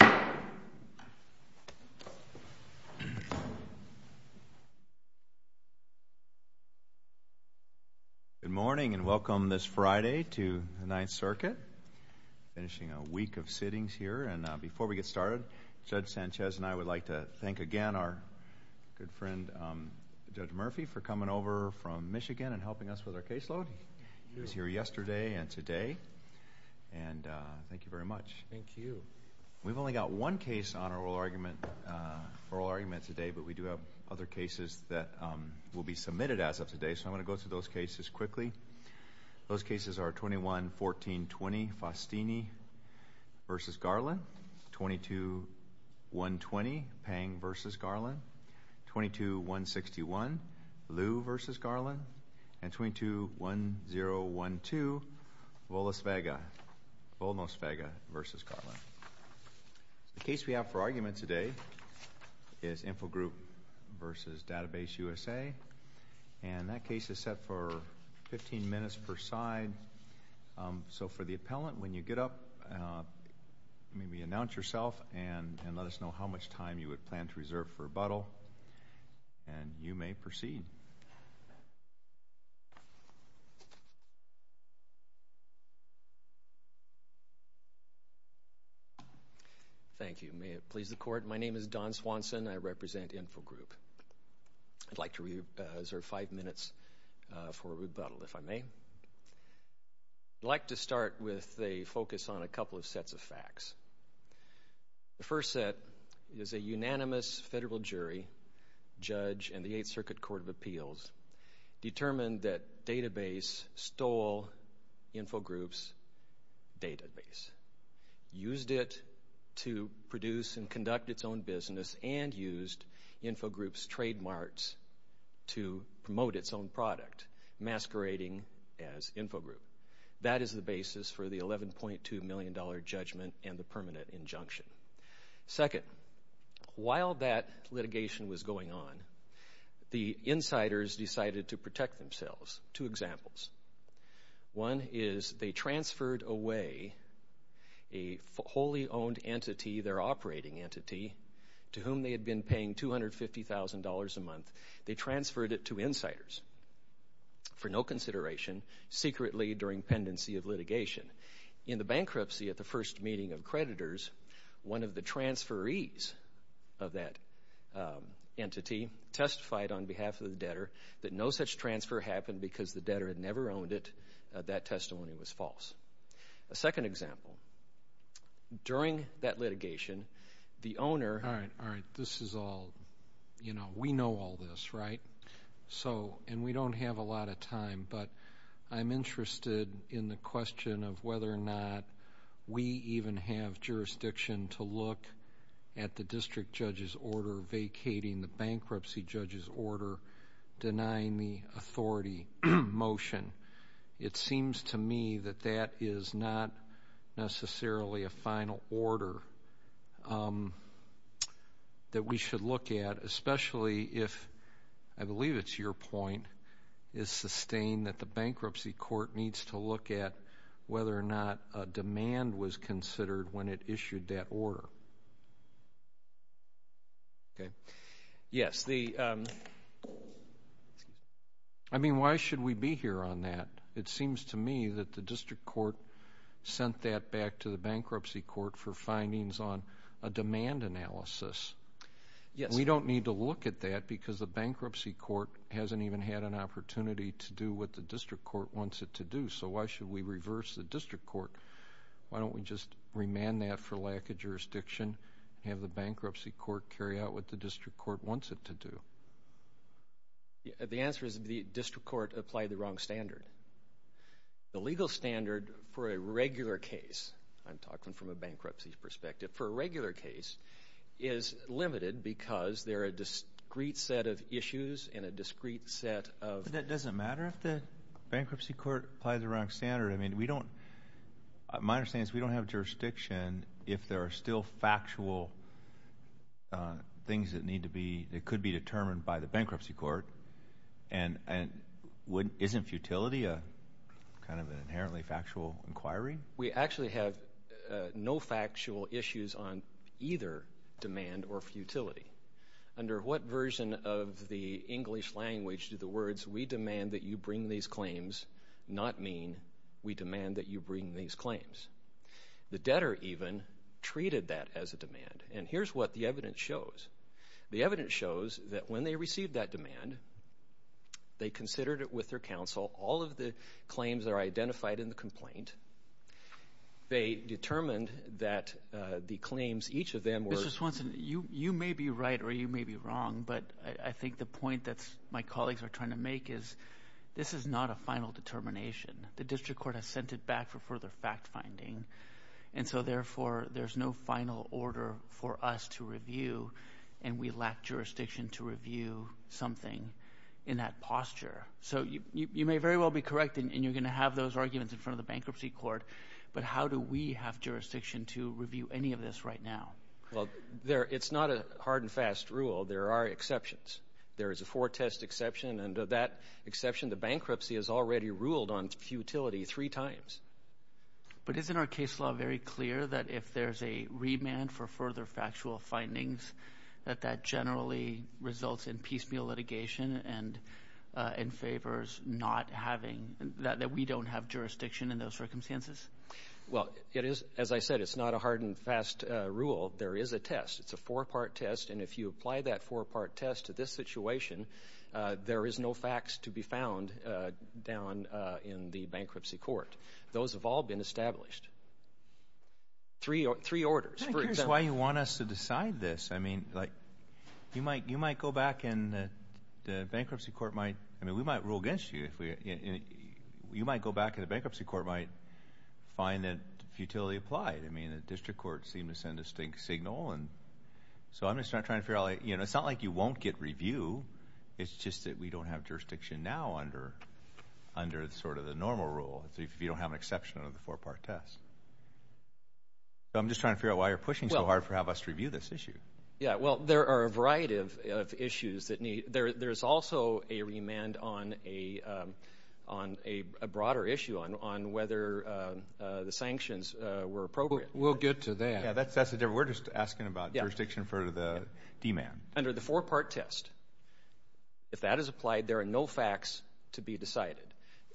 Good morning, and welcome this Friday to the Ninth Circuit, finishing a week of sittings here. And before we get started, Judge Sanchez and I would like to thank again our good friend Judge Murphy for coming over from Michigan and helping us with our caseload. He was here yesterday and today, and thank you very much. Thank you. We've only got one case on our oral argument today, but we do have other cases that will be submitted as of today, so I'm going to go through those cases quickly. Those cases are 21-14-20, Faustini v. Garland, 22-1-20, Pang v. Garland, 22-1-61, Liu v. Garland. The case we have for argument today is Infogroup v. DatabaseUSA, and that case is set for 15 minutes per side. So for the appellant, when you get up, maybe announce yourself and let us know how much time you would plan to reserve for rebuttal, and you may proceed. Thank you. May it please the Court. My name is Don Swanson. I represent Infogroup. I'd like to reserve five minutes for rebuttal, if I may. I'd like to start with a focus on a couple of sets of facts. The first set is a unanimous federal jury, judge, and the Eighth Circuit Court of Appeals determined that Database stole Infogroup's database, used it to produce and conduct its own business, and used Infogroup's trademarks to promote its own product, masquerading as Infogroup. That is the basis for the $11.2 million judgment and the permanent injunction. Second, while that litigation was going on, the insiders decided to protect themselves. Two examples. One is they transferred away a wholly owned entity, their operating entity, to whom they had been paying $250,000 a month. They transferred it to insiders for no consideration, secretly during pendency of litigation. In the bankruptcy at the first meeting of creditors, one of the transferees of that entity testified on behalf of the debtor that no such transfer happened because the debtor had never owned it. That testimony was false. A second example. During that litigation, the owner... All right, all right. This is all... You know, we know all this, right? And we don't have a lot of time, but I'm interested in the question of whether or not we even have jurisdiction to look at the district judge's order vacating the bankruptcy judge's order, denying the authority motion. It seems to me that that is not necessarily a final order that we should look at, especially if, I believe it's your point, it's sustained that the bankruptcy court needs to look at whether or not a demand was considered when it issued that order. Okay. Yes. I mean, why should we be here on that? It seems to me that the district court sent that back to the bankruptcy court for findings on a demand analysis. We don't need to look at that because the bankruptcy court hasn't even had an opportunity to do what the district court wants it to do, so why should we reverse the district court? Why don't we just remand that for lack of jurisdiction, have the bankruptcy court carry out what the district court wants it to do? The answer is the district court applied the wrong standard. The legal standard for a regular case, I'm talking from a bankruptcy perspective, for a regular case is limited because there are a discrete set of issues and a discrete set of – But that doesn't matter if the bankruptcy court applied the wrong standard. I mean, we don't – my understanding is we don't have jurisdiction if there are still factual things that need to be – that could be determined by the bankruptcy court. And isn't futility kind of an inherently factual inquiry? We actually have no factual issues on either demand or futility. Under what version of the English language do the words, we demand that you bring these we demand that you bring these claims? The debtor even treated that as a demand. And here's what the evidence shows. The evidence shows that when they received that demand, they considered it with their counsel. All of the claims are identified in the complaint. They determined that the claims, each of them were – Mr. Swanson, you may be right or you may be wrong, but I think the point that my colleagues are trying to make is this is not a final determination. The district court has sent it back for further fact-finding. And so, therefore, there's no final order for us to review, and we lack jurisdiction to review something in that posture. So you may very well be correct, and you're going to have those arguments in front of the bankruptcy court, but how do we have jurisdiction to review any of this right now? Well, there – it's not a hard and fast rule. There are exceptions. There is a four-test exception, and that exception, the bankruptcy has already ruled on futility three times. But isn't our case law very clear that if there's a remand for further factual findings that that generally results in piecemeal litigation and favors not having – that we don't have jurisdiction in those circumstances? Well, it is – as I said, it's not a hard and fast rule. There is a test. It's a four-part test, and if you apply that four-part test to this situation, there is no facts to be found down in the bankruptcy court. Those have all been established. Three orders, for example. I'm curious why you want us to decide this. I mean, like, you might go back and the bankruptcy court might – I mean, we might rule against you if we – you might go back and the bankruptcy court might find that futility applied. I mean, the district courts seem to send a signal, and so I'm just not trying to figure out, like, you know, it's not like you won't get review. It's just that we don't have jurisdiction now under sort of the normal rule, if you don't have an exception under the four-part test. So I'm just trying to figure out why you're pushing so hard for us to review this issue. Yeah, well, there are a variety of issues that need – there's also a remand on a broader issue on whether the sanctions were appropriate. We'll get to that. Yeah, that's the difference. We're just asking about jurisdiction for the demand. Under the four-part test, if that is applied, there are no facts to be decided.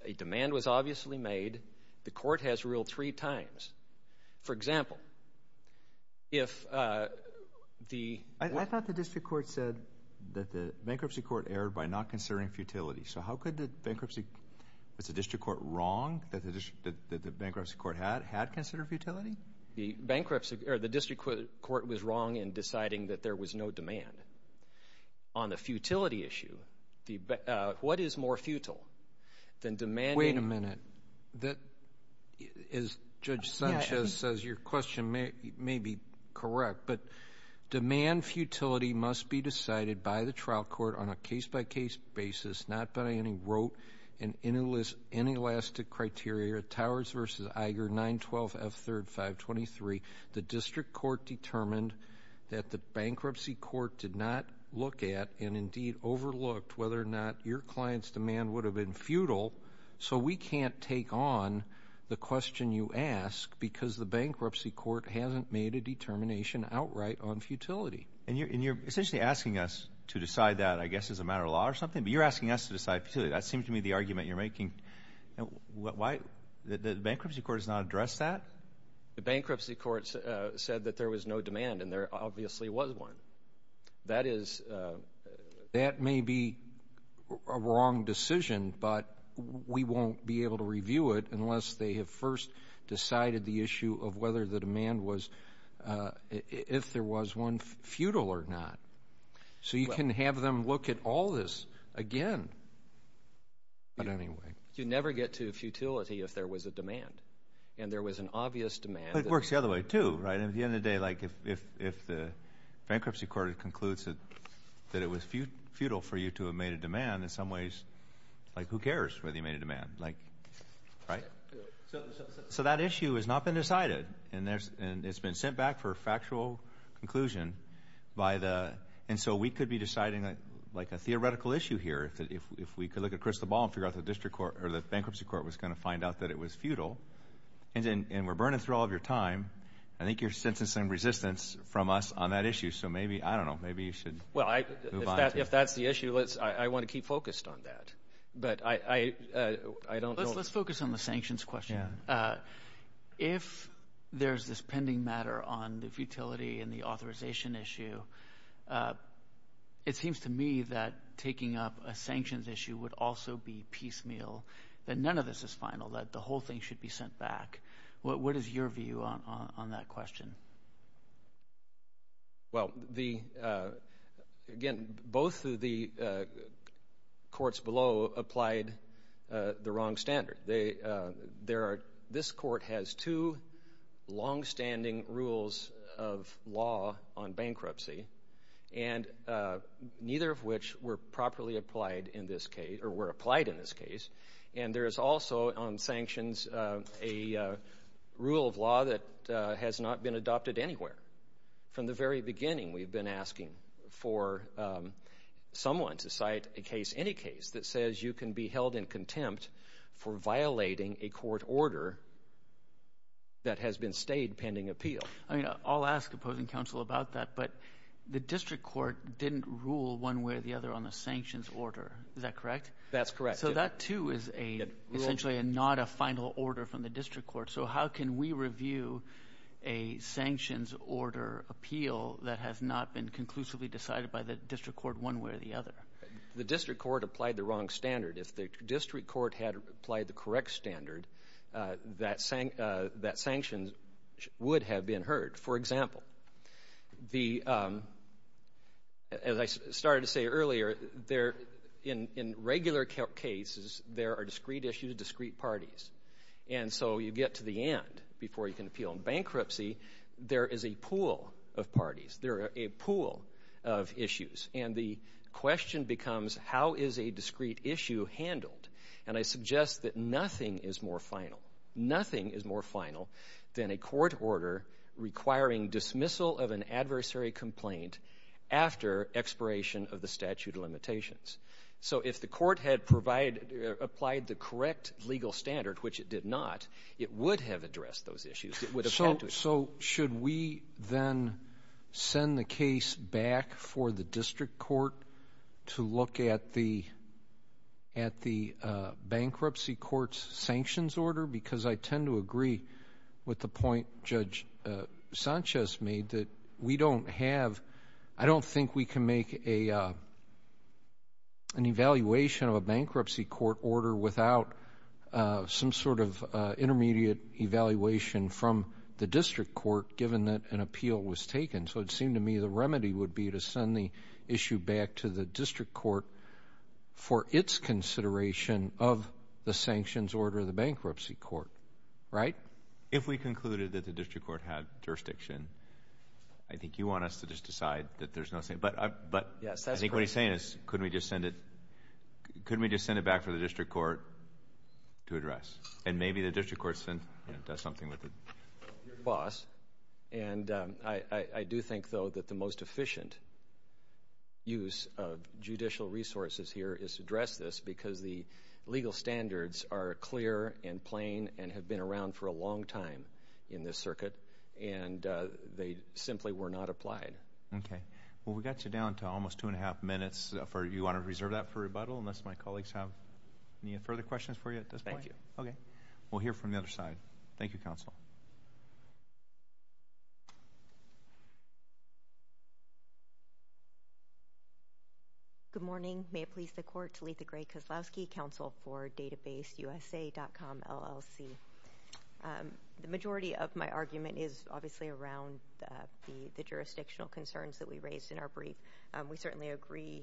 A demand was obviously made. The court has ruled three times. For example, if the – I thought the district court said that the bankruptcy court erred by not considering futility. So how could the bankruptcy – was the district court wrong that the bankruptcy court had considered futility? The bankruptcy – or the district court was wrong in deciding that there was no demand. On the futility issue, what is more futile than demanding – Wait a minute. As Judge Sanchez says, your question may be correct, but demand futility must be decided by the trial court on a case-by-case basis, not by any rote and inelastic criteria, Towers v. Iger, 912 F. 3rd 523. The district court determined that the bankruptcy court did not look at and indeed overlooked whether or not your client's demand would have been futile, so we can't take on the question you ask because the bankruptcy court hasn't made a determination outright on futility. And you're essentially asking us to decide that, I guess, as a matter of law or something, but you're asking us to decide futility. That seems to me the argument you're making. Why – the bankruptcy court has not addressed that? The bankruptcy court said that there was no demand and there obviously was one. That is – That may be a wrong decision, but we won't be able to review it unless they have first decided the issue of whether the demand was – if there was one, futile or not. So you can have them look at all this again. But anyway – You'd never get to futility if there was a demand, and there was an obvious demand – But it works the other way, too, right? At the end of the day, like, if the bankruptcy court concludes that it was futile for you to have made a demand, in some ways, like, who cares whether you made a demand, right? So that issue has not been decided, and it's been sent back for a factual conclusion by the – and so we could be deciding, like, a theoretical issue here, if we could look at crystal ball and figure out the district court – or the bankruptcy court was going to find out that it was futile, and we're burning through all of your time. I think you're sentencing resistance from us on that issue. So maybe – I don't know. Maybe you should move on to that. Well, if that's the issue, I want to keep focused on that. But I don't – Let's focus on the sanctions question. If there's this pending matter on the futility and the authorization issue, it seems to me that taking up a sanctions issue would also be piecemeal, that none of this is final, that the whole thing should be sent back. What is your view on that question? Well, the – again, both of the courts below applied the wrong standard. They – this court has two longstanding rules of law on bankruptcy, and neither of which were properly applied in this case – or were applied in this case. And there is also on sanctions a rule of law that has not been adopted anywhere. From the very beginning, we've been asking for someone to cite a case – any case that is violating a court order that has been stayed pending appeal. I mean, I'll ask opposing counsel about that. But the district court didn't rule one way or the other on the sanctions order. Is that correct? That's correct. So that, too, is a – essentially not a final order from the district court. So how can we review a sanctions order appeal that has not been conclusively decided by the district court one way or the other? The district court applied the wrong standard. If the district court had applied the correct standard, that sanctions would have been heard. For example, the – as I started to say earlier, there – in regular cases, there are discrete issues, discrete parties. And so you get to the end before you can appeal on bankruptcy. There is a pool of parties. There are a pool of issues. And the question becomes, how is a discrete issue handled? And I suggest that nothing is more final – nothing is more final than a court order requiring dismissal of an adversary complaint after expiration of the statute of limitations. So if the court had provided – applied the correct legal standard, which it did not, it would have addressed those issues. It would have had to. So should we then send the case back for the district court to look at the bankruptcy court's sanctions order? Because I tend to agree with the point Judge Sanchez made, that we don't have – I don't think we can make an evaluation of a bankruptcy court order without some sort of intermediate evaluation from the district court, given that an appeal was taken. So it seemed to me the remedy would be to send the issue back to the district court for its consideration of the sanctions order of the bankruptcy court, right? If we concluded that the district court had jurisdiction, I think you want us to just decide that there's no – but I think what he's saying is, could we just send it – could we just send it back for the district court to address? And maybe the district court does something with it. Your clause, and I do think, though, that the most efficient use of judicial resources here is to address this, because the legal standards are clear and plain and have been around for a long time in this circuit, and they simply were not applied. Okay. Well, we got you down to almost two and a half minutes. You want to reserve that for rebuttal, unless my colleagues have any further questions for you at this point? Okay. Thank you. Okay. We'll hear from the other side. Thank you, Counsel. Good morning. May it please the Court to lead the Gray-Koslowski Counsel for DatabaseUSA.com, LLC. The majority of my argument is obviously around the jurisdictional concerns that we raised in our brief. We certainly agree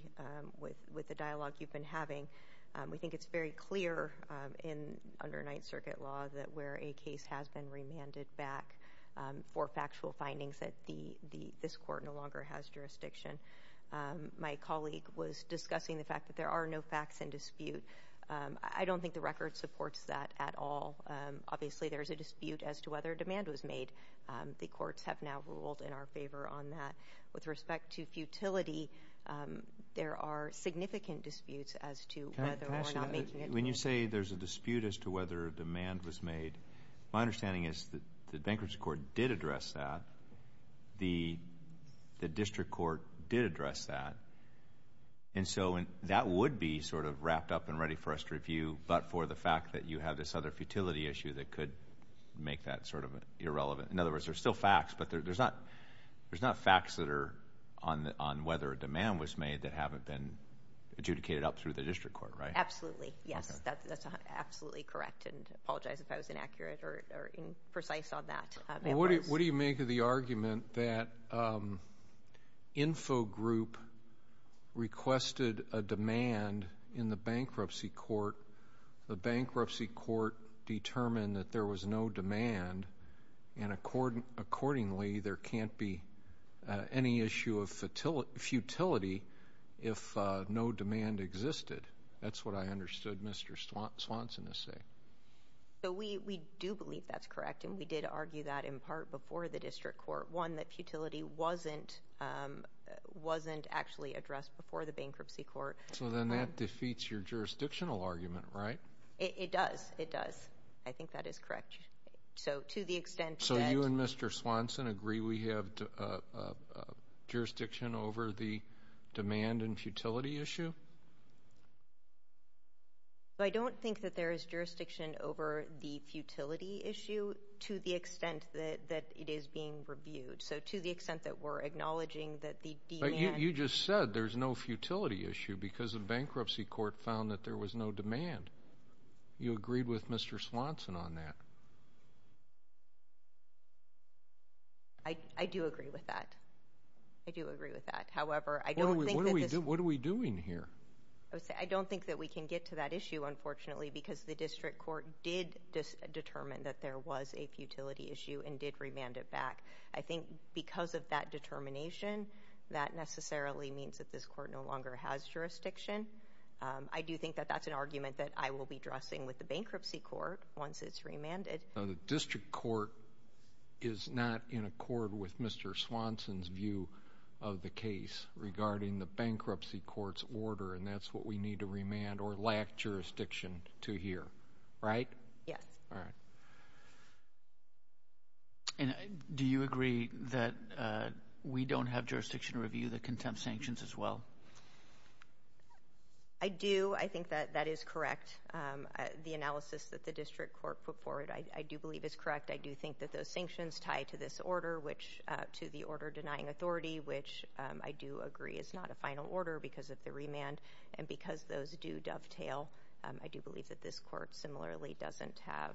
with the dialogue you've been having. We think it's very clear under Ninth Circuit law that where a case has been remanded back for factual findings, that this Court no longer has jurisdiction. My colleague was discussing the fact that there are no facts in dispute. I don't think the record supports that at all. Obviously, there's a dispute as to whether a demand was made. The courts have now ruled in our favor on that. With respect to futility, there are significant disputes as to whether or not making it. When you say there's a dispute as to whether a demand was made, my understanding is that the bankruptcy court did address that. The district court did address that. That would be sort of wrapped up and ready for us to review, but for the fact that you have this other futility issue that could make that sort of irrelevant. In other words, there's still facts, but there's not facts that are on whether a demand was made that haven't been adjudicated up through the district court, right? Absolutely. Yes, that's absolutely correct. I apologize if I was inaccurate or imprecise on that. What do you make of the argument that Info Group requested a demand in the bankruptcy court, the bankruptcy court determined that there was no demand, and accordingly, there can't be any issue of futility if no demand existed? That's what I understood Mr. Swanson to say. We do believe that's correct, and we did argue that in part before the district court. One, that futility wasn't actually addressed before the bankruptcy court. So then that defeats your jurisdictional argument, right? It does. It does. I think that is correct. So to the extent that- So you and Mr. Swanson agree we have jurisdiction over the demand and futility issue? I don't think that there is jurisdiction over the futility issue to the extent that it is So to the extent that we're acknowledging that the demand- You just said there's no futility issue because the bankruptcy court found that there was no demand. You agreed with Mr. Swanson on that. I do agree with that. I do agree with that. However, I don't think- What are we doing here? I don't think that we can get to that issue, unfortunately, because the district court did determine that there was a futility issue and did remand it back. I think because of that determination, that necessarily means that this court no longer has jurisdiction. I do think that that's an argument that I will be addressing with the bankruptcy court once it's remanded. So the district court is not in accord with Mr. Swanson's view of the case regarding the bankruptcy court's order and that's what we need to remand or lack jurisdiction to hear, right? Yes. All right. And do you agree that we don't have jurisdiction to review the contempt sanctions as well? I do. I think that that is correct. The analysis that the district court put forward, I do believe is correct. I do think that those sanctions tie to this order, which- to the order denying authority, which I do agree is not a final order because of the remand and because those do dovetail. I do believe that this court similarly doesn't have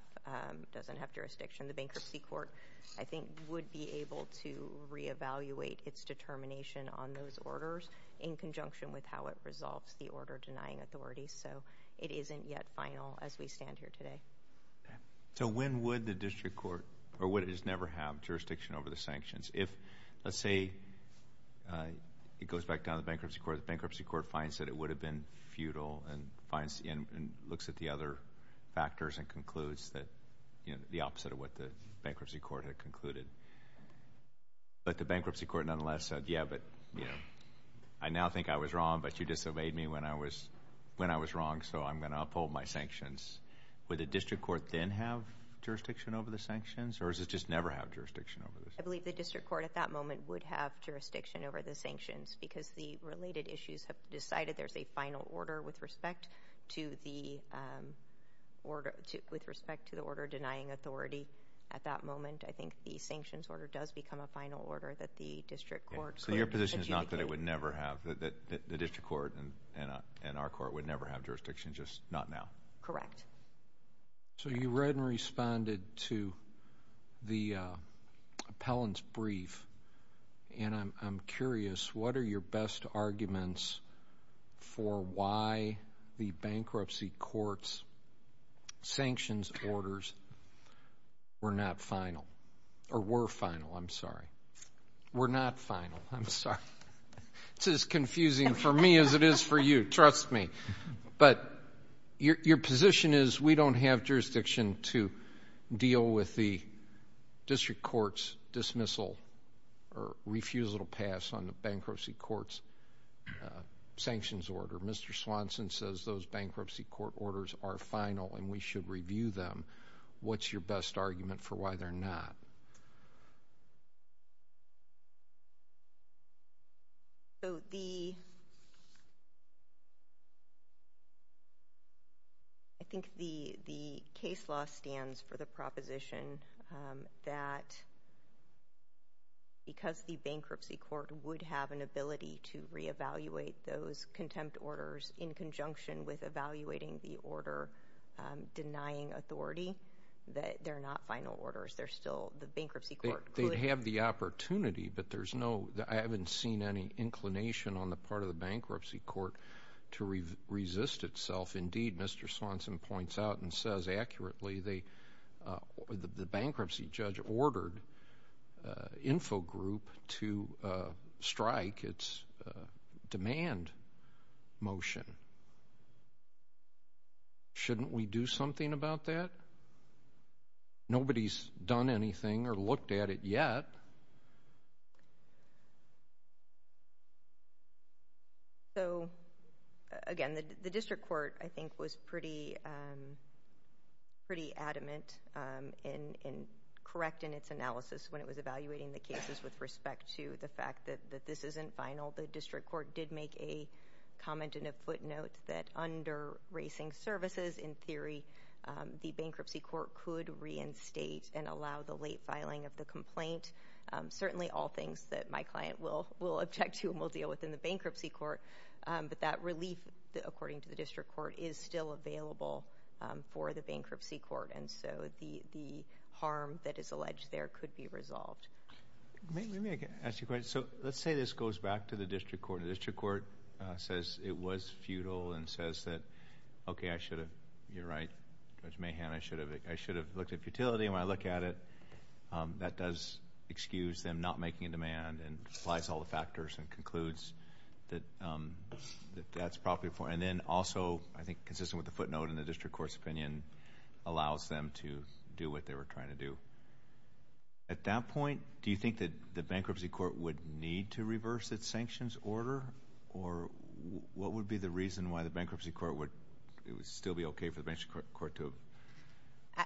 jurisdiction. The bankruptcy court, I think, would be able to reevaluate its determination on those orders in conjunction with how it resolves the order denying authority. So it isn't yet final as we stand here today. So when would the district court- or would it just never have jurisdiction over the sanctions? If, let's say, it goes back down to the bankruptcy court, the bankruptcy court finds that it would have been futile and finds- and looks at the other factors and concludes that, you know, the opposite of what the bankruptcy court had concluded. But the bankruptcy court nonetheless said, yeah, but, you know, I now think I was wrong, but you disobeyed me when I was wrong, so I'm going to uphold my sanctions. Would the district court then have jurisdiction over the sanctions or does it just never have jurisdiction over the sanctions? I believe the district court at that moment would have jurisdiction over the sanctions because the related issues have decided there's a final order with respect to the order- with respect to the order denying authority. At that moment, I think the sanctions order does become a final order that the district court cleared to adjudicate. So your position is not that it would never have- that the district court and our court would never have jurisdiction, just not now? Correct. So you read and responded to the appellant's brief, and I'm curious, what are your best arguments for why the bankruptcy court's sanctions orders were not final? Or were final, I'm sorry. Were not final, I'm sorry. It's as confusing for me as it is for you, trust me. But your position is we don't have jurisdiction to deal with the district court's dismissal or refusal to pass on the bankruptcy court's sanctions order. Mr. Swanson says those bankruptcy court orders are final and we should review them. What's your best argument for why they're not? So the- I think the case law stands for the proposition that because the bankruptcy court would have an ability to reevaluate those contempt orders in conjunction with evaluating the order denying authority, that they're not final orders. They're still- the bankruptcy court could- They'd have the opportunity, but there's no- I haven't seen any inclination on the part of the bankruptcy court to resist itself. Indeed, Mr. Swanson points out and says accurately they- the bankruptcy judge ordered Infogroup to strike its demand motion. Shouldn't we do something about that? Nobody's done anything or looked at it yet. So, again, the district court, I think, was pretty- pretty adamant in correcting its analysis when it was evaluating the cases with respect to the fact that this isn't final. The district court did make a comment in a footnote that under racing services, in theory, the bankruptcy court could reinstate and allow the late filing of the complaint. Certainly all things that my client will- will object to and will deal with in the bankruptcy court, but that relief, according to the district court, is still available for the bankruptcy court. And so the- the harm that is alleged there could be resolved. Let me ask you a question. So let's say this goes back to the district court and the district court says it was futile and says that, okay, I should have- you're right, Judge Mahan, I should have- I should have looked at futility. And when I look at it, that does excuse them not making a demand and applies all the factors and concludes that- that that's probably for- and then also, I think, consistent with the allows them to do what they were trying to do. At that point, do you think that the bankruptcy court would need to reverse its sanctions order or what would be the reason why the bankruptcy court would- it would still be okay for the bankruptcy court to-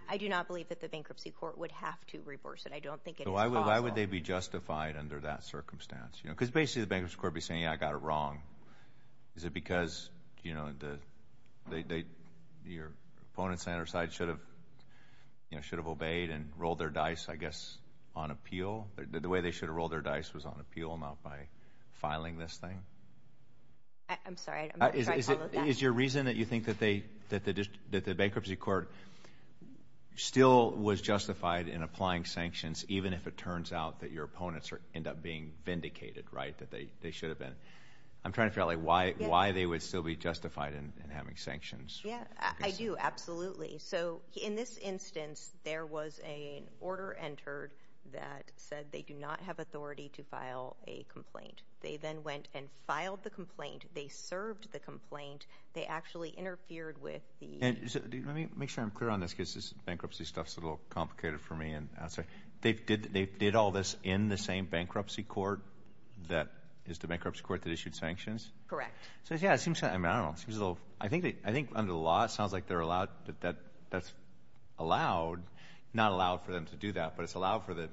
I do not believe that the bankruptcy court would have to reverse it. I don't think it is possible. So why would- why would they be justified under that circumstance? You know, because basically the bankruptcy court would be saying, yeah, I got it wrong. Is it because, you know, the- they- your opponent's side should have, you know, should have obeyed and rolled their dice, I guess, on appeal? The way they should have rolled their dice was on appeal, not by filing this thing? I'm sorry, I'm not sure I followed that. Is your reason that you think that they- that the bankruptcy court still was justified in applying sanctions even if it turns out that your opponents end up being vindicated, right, that they should have been? I'm trying to figure out, like, why- why they would still be justified in having sanctions. Yeah, I do, absolutely. So in this instance, there was an order entered that said they do not have authority to file a complaint. They then went and filed the complaint, they served the complaint, they actually interfered with the- And let me make sure I'm clear on this because this bankruptcy stuff's a little complicated for me and I'll say, they've did- they did all this in the same bankruptcy court that is the bankruptcy court that issued sanctions? Correct. So yeah, it seems- I mean, I don't know, it seems a little- I think under the law it sounds like they're allowed- that that's allowed, not allowed for them to do that, but it's allowed for the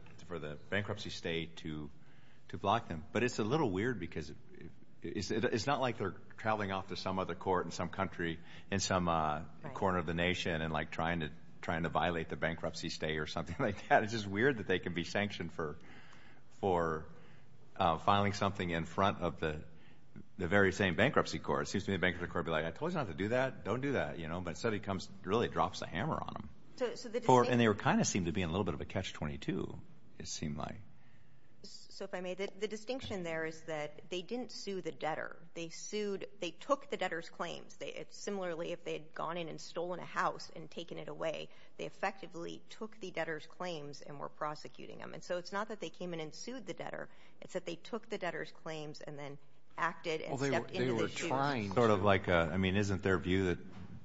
bankruptcy state to block them. But it's a little weird because it's not like they're traveling off to some other court in some country in some corner of the nation and, like, trying to violate the bankruptcy state or something like that. It's just weird that they can be sanctioned for filing something in front of the very same bankruptcy court. It seems to me the bankruptcy court would be like, I told you not to do that, don't do that, you know, but instead it becomes- it really drops the hammer on them. And they kind of seem to be in a little bit of a catch-22, it seemed like. So if I may, the distinction there is that they didn't sue the debtor. They sued- they took the debtor's claims. Similarly, if they had gone in and stolen a house and taken it away, they effectively took the debtor's claims and were prosecuting them. And so it's not that they came in and sued the debtor. It's that they took the debtor's claims and then acted and stepped into the shoes. Well, they were trying to. Sort of like a- I mean, isn't their view that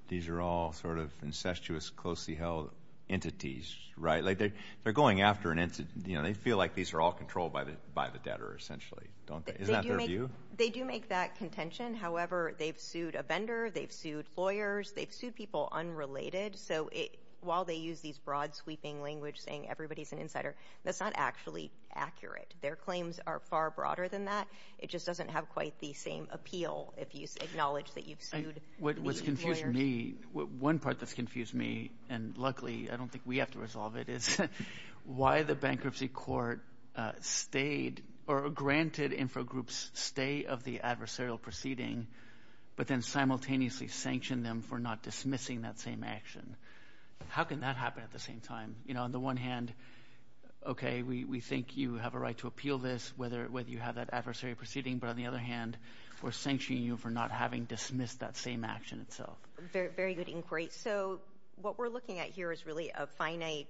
these are all sort of incestuous, closely held entities, right? They're going after an entity. You know, they feel like these are all controlled by the debtor, essentially, don't they? Isn't that their view? They do make that contention. However, they've sued a vendor, they've sued lawyers, they've sued people unrelated. So it- while they use these broad, sweeping language saying everybody's an insider, that's not actually accurate. Their claims are far broader than that. It just doesn't have quite the same appeal if you acknowledge that you've sued these employers. What's confused me- one part that's confused me, and luckily, I don't think we have to resolve it, is why the bankruptcy court stayed- or granted Infogroup's stay of the adversarial proceeding, but then simultaneously sanctioned them for not dismissing that same action. How can that happen at the same time? You know, on the one hand, okay, we think you have a right to appeal this, whether you have that adversarial proceeding, but on the other hand, we're sanctioning you for not having dismissed that same action itself. Very good inquiry. So what we're looking at here is really a finite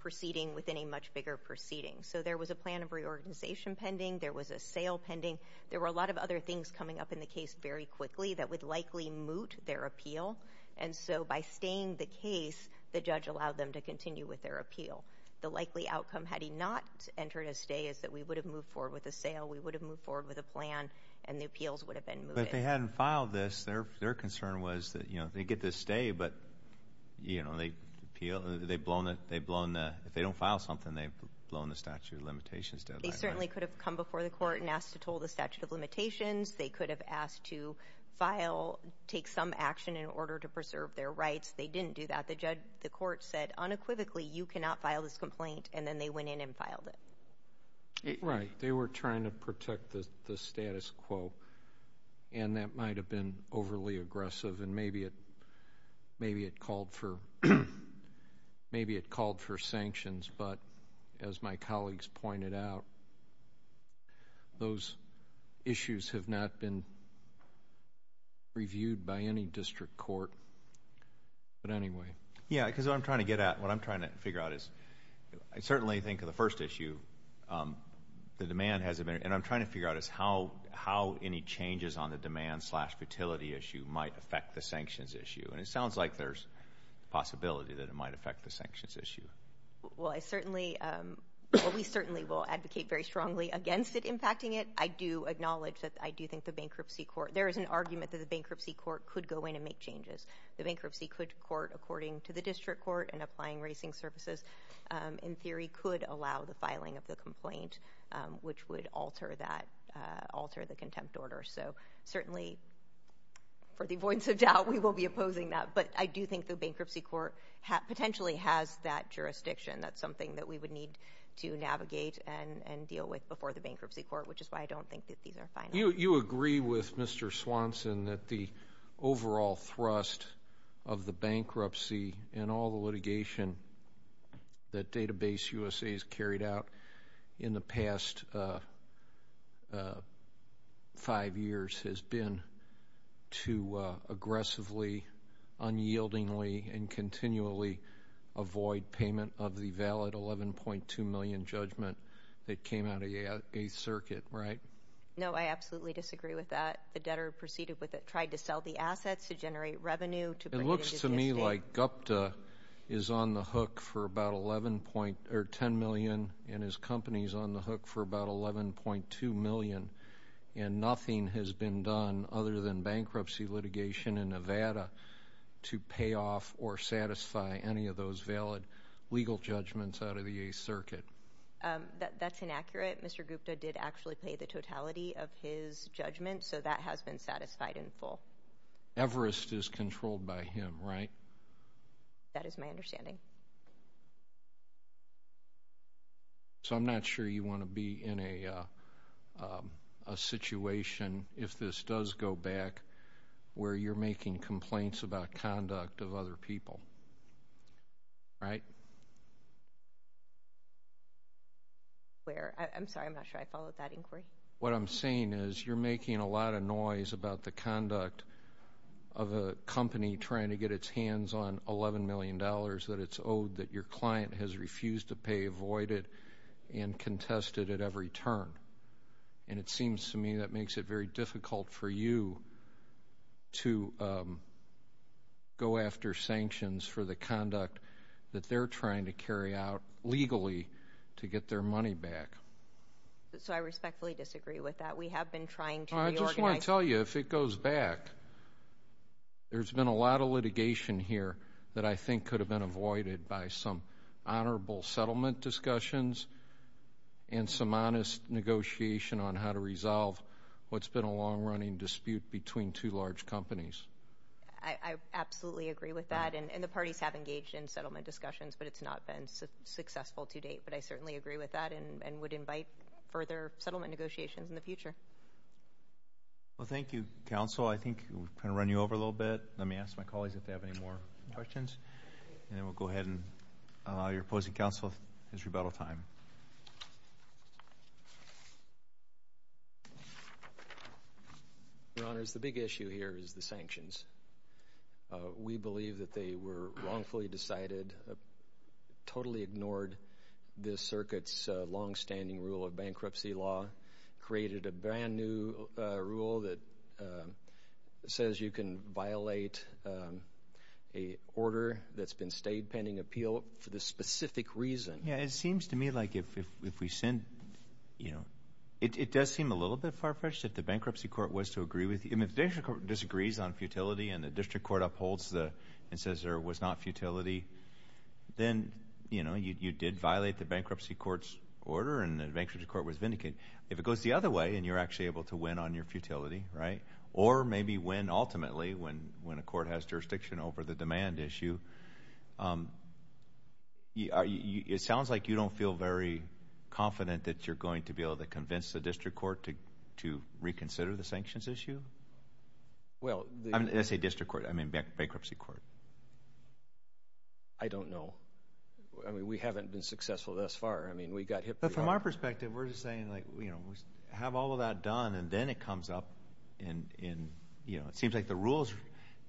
proceeding within a much bigger proceeding. So there was a plan of reorganization pending, there was a sale pending, there were a lot of other things coming up in the case very quickly that would likely moot their appeal, and so by staying the case, the judge allowed them to continue with their appeal. The likely outcome, had he not entered a stay, is that we would have moved forward with a sale, we would have moved forward with a plan, and the appeals would have been mooted. But if they hadn't filed this, their concern was that, you know, they get this stay, but, you know, they appeal- they've blown the- if they don't file something, they've blown the statute of limitations deadline. They certainly could have come before the court and asked to toll the statute of limitations. They could have asked to file- take some action in order to preserve their rights. They didn't do that. The judge- the court said, unequivocally, you cannot file this complaint, and then they went in and filed it. Right. They were trying to protect the status quo, and that might have been overly aggressive, and maybe it called for sanctions, but as my colleagues pointed out, those issues have not been reviewed by any district court, but anyway. Yeah, because what I'm trying to get at, what I'm trying to figure out is, I certainly think of the first issue, the demand hasn't been- and I'm trying to figure out is how any changes on the demand slash futility issue might affect the sanctions issue, and it sounds like there's a possibility that it might affect the sanctions issue. Well, I certainly- we certainly will advocate very strongly against it impacting it. I do acknowledge that I do think the bankruptcy court- there is an argument that the bankruptcy court could go in and make changes. The bankruptcy could court, according to the district court and applying racing services, in theory, could allow the filing of the complaint, which would alter that- alter the contempt order, so certainly, for the avoidance of doubt, we will be opposing that, but I do think the bankruptcy court potentially has that jurisdiction. That's something that we would need to navigate and deal with before the bankruptcy court, which is why I don't think that these are final. You agree with Mr. Swanson that the overall thrust of the bankruptcy and all the litigation that Database USA has carried out in the past five years has been to aggressively, unyieldingly, and continually avoid payment of the valid $11.2 million judgment that came out of the Eighth Circuit, right? No, I absolutely disagree with that. The debtor proceeded with it, tried to sell the assets to generate revenue to bring it into the state. A company like Gupta is on the hook for about $11.2 million, and his company is on the hook for about $11.2 million, and nothing has been done other than bankruptcy litigation in Nevada to pay off or satisfy any of those valid legal judgments out of the Eighth Circuit. That's inaccurate. Mr. Gupta did actually pay the totality of his judgments, so that has been satisfied in full. Everest is controlled by him, right? That is my understanding. So I'm not sure you want to be in a situation, if this does go back, where you're making complaints about conduct of other people, right? Where? I'm sorry, I'm not sure I followed that inquiry. What I'm saying is, you're making a lot of noise about the conduct of a company trying to get its hands on $11 million that it's owed, that your client has refused to pay, avoided, and contested at every turn. And it seems to me that makes it very difficult for you to go after sanctions for the conduct that they're trying to carry out legally to get their money back. So I respectfully disagree with that. We have been trying to reorganize. I just want to tell you, if it goes back, there's been a lot of litigation here that I think could have been avoided by some honorable settlement discussions and some honest negotiation on how to resolve what's been a long-running dispute between two large companies. I absolutely agree with that, and the parties have engaged in settlement discussions, but it's not been successful to date. But I certainly agree with that and would invite further settlement negotiations in the future. Well, thank you, counsel. I think we've kind of run you over a little bit. Let me ask my colleagues if they have any more questions, and then we'll go ahead and allow your opposing counsel his rebuttal time. Your Honors, the big issue here is the sanctions. We believe that they were wrongfully decided, totally ignored this circuit's longstanding rule of bankruptcy law, created a brand new rule that says you can violate an order that's been stayed pending appeal for this specific reason. Yeah, it seems to me like if we send, you know, it does seem a little bit far-fetched if the bankruptcy court was to agree with you, and if the bankruptcy court disagrees on futility and the district court upholds and says there was not futility, then, you know, you did violate the bankruptcy court's order and the bankruptcy court was vindicated. If it goes the other way and you're actually able to win on your futility, right, or maybe win ultimately when a court has jurisdiction over the demand issue, it sounds like you don't feel very confident that you're going to be able to convince the district court to reconsider the sanctions issue? I say district court, I mean bankruptcy court. I don't know. I mean, we haven't been successful thus far. I mean, we got hit pretty hard. But from our perspective, we're just saying, like, you know, have all of that done and then it comes up in, you know, it seems like the rules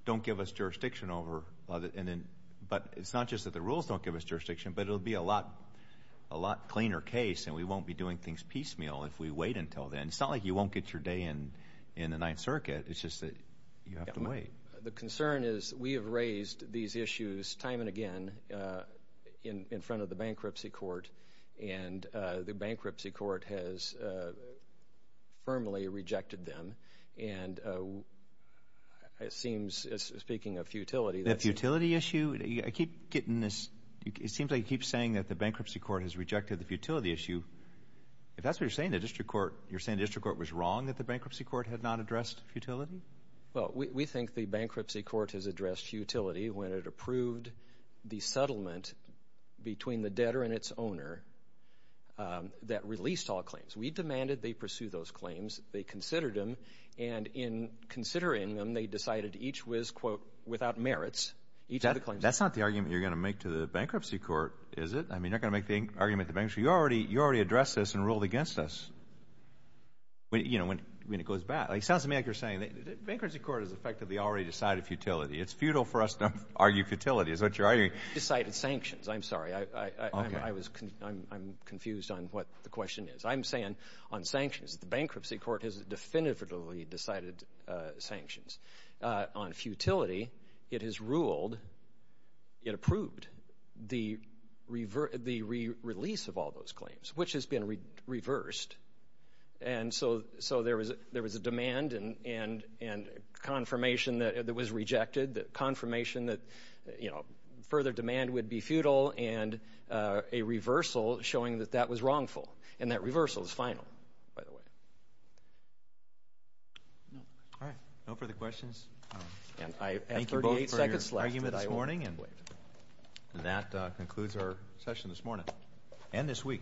don't give us jurisdiction over and then, but it's not just that the rules don't give us jurisdiction, but it'll be a lot cleaner case and we won't be doing things piecemeal if we wait until then. It's not like you won't get your day in the Ninth Circuit. It's just that you have to wait. The concern is we have raised these issues time and again in front of the bankruptcy court and the bankruptcy court has firmly rejected them and it seems, speaking of futility, the futility issue, I keep getting this, it seems like you keep saying that the bankruptcy court has rejected the futility issue. If that's what you're saying, the district court, you're saying the district court was wrong that the bankruptcy court had not addressed futility? Well, we think the bankruptcy court has addressed futility when it approved the settlement between the debtor and its owner that released all claims. We demanded they pursue those claims. They considered them and in considering them, they decided each was, quote, without merits. That's not the argument you're going to make to the bankruptcy court, is it? I mean, you're not going to make the argument to the bankruptcy. You already addressed this and ruled against us. When it goes back, it sounds to me like you're saying the bankruptcy court has effectively already decided futility. It's futile for us to argue futility is what you're arguing. Decided sanctions, I'm sorry. I'm confused on what the question is. I'm saying on sanctions, the bankruptcy court has definitively decided sanctions. On futility, it has ruled, it approved the release of all those claims, which has been reversed. And so there was a demand and confirmation that it was rejected, the confirmation that further demand would be futile and a reversal showing that that was wrongful. And that reversal is final, by the way. All right. No further questions? And I have 38 seconds left. Thank you both for your argument this morning and that concludes our session this morning and this week.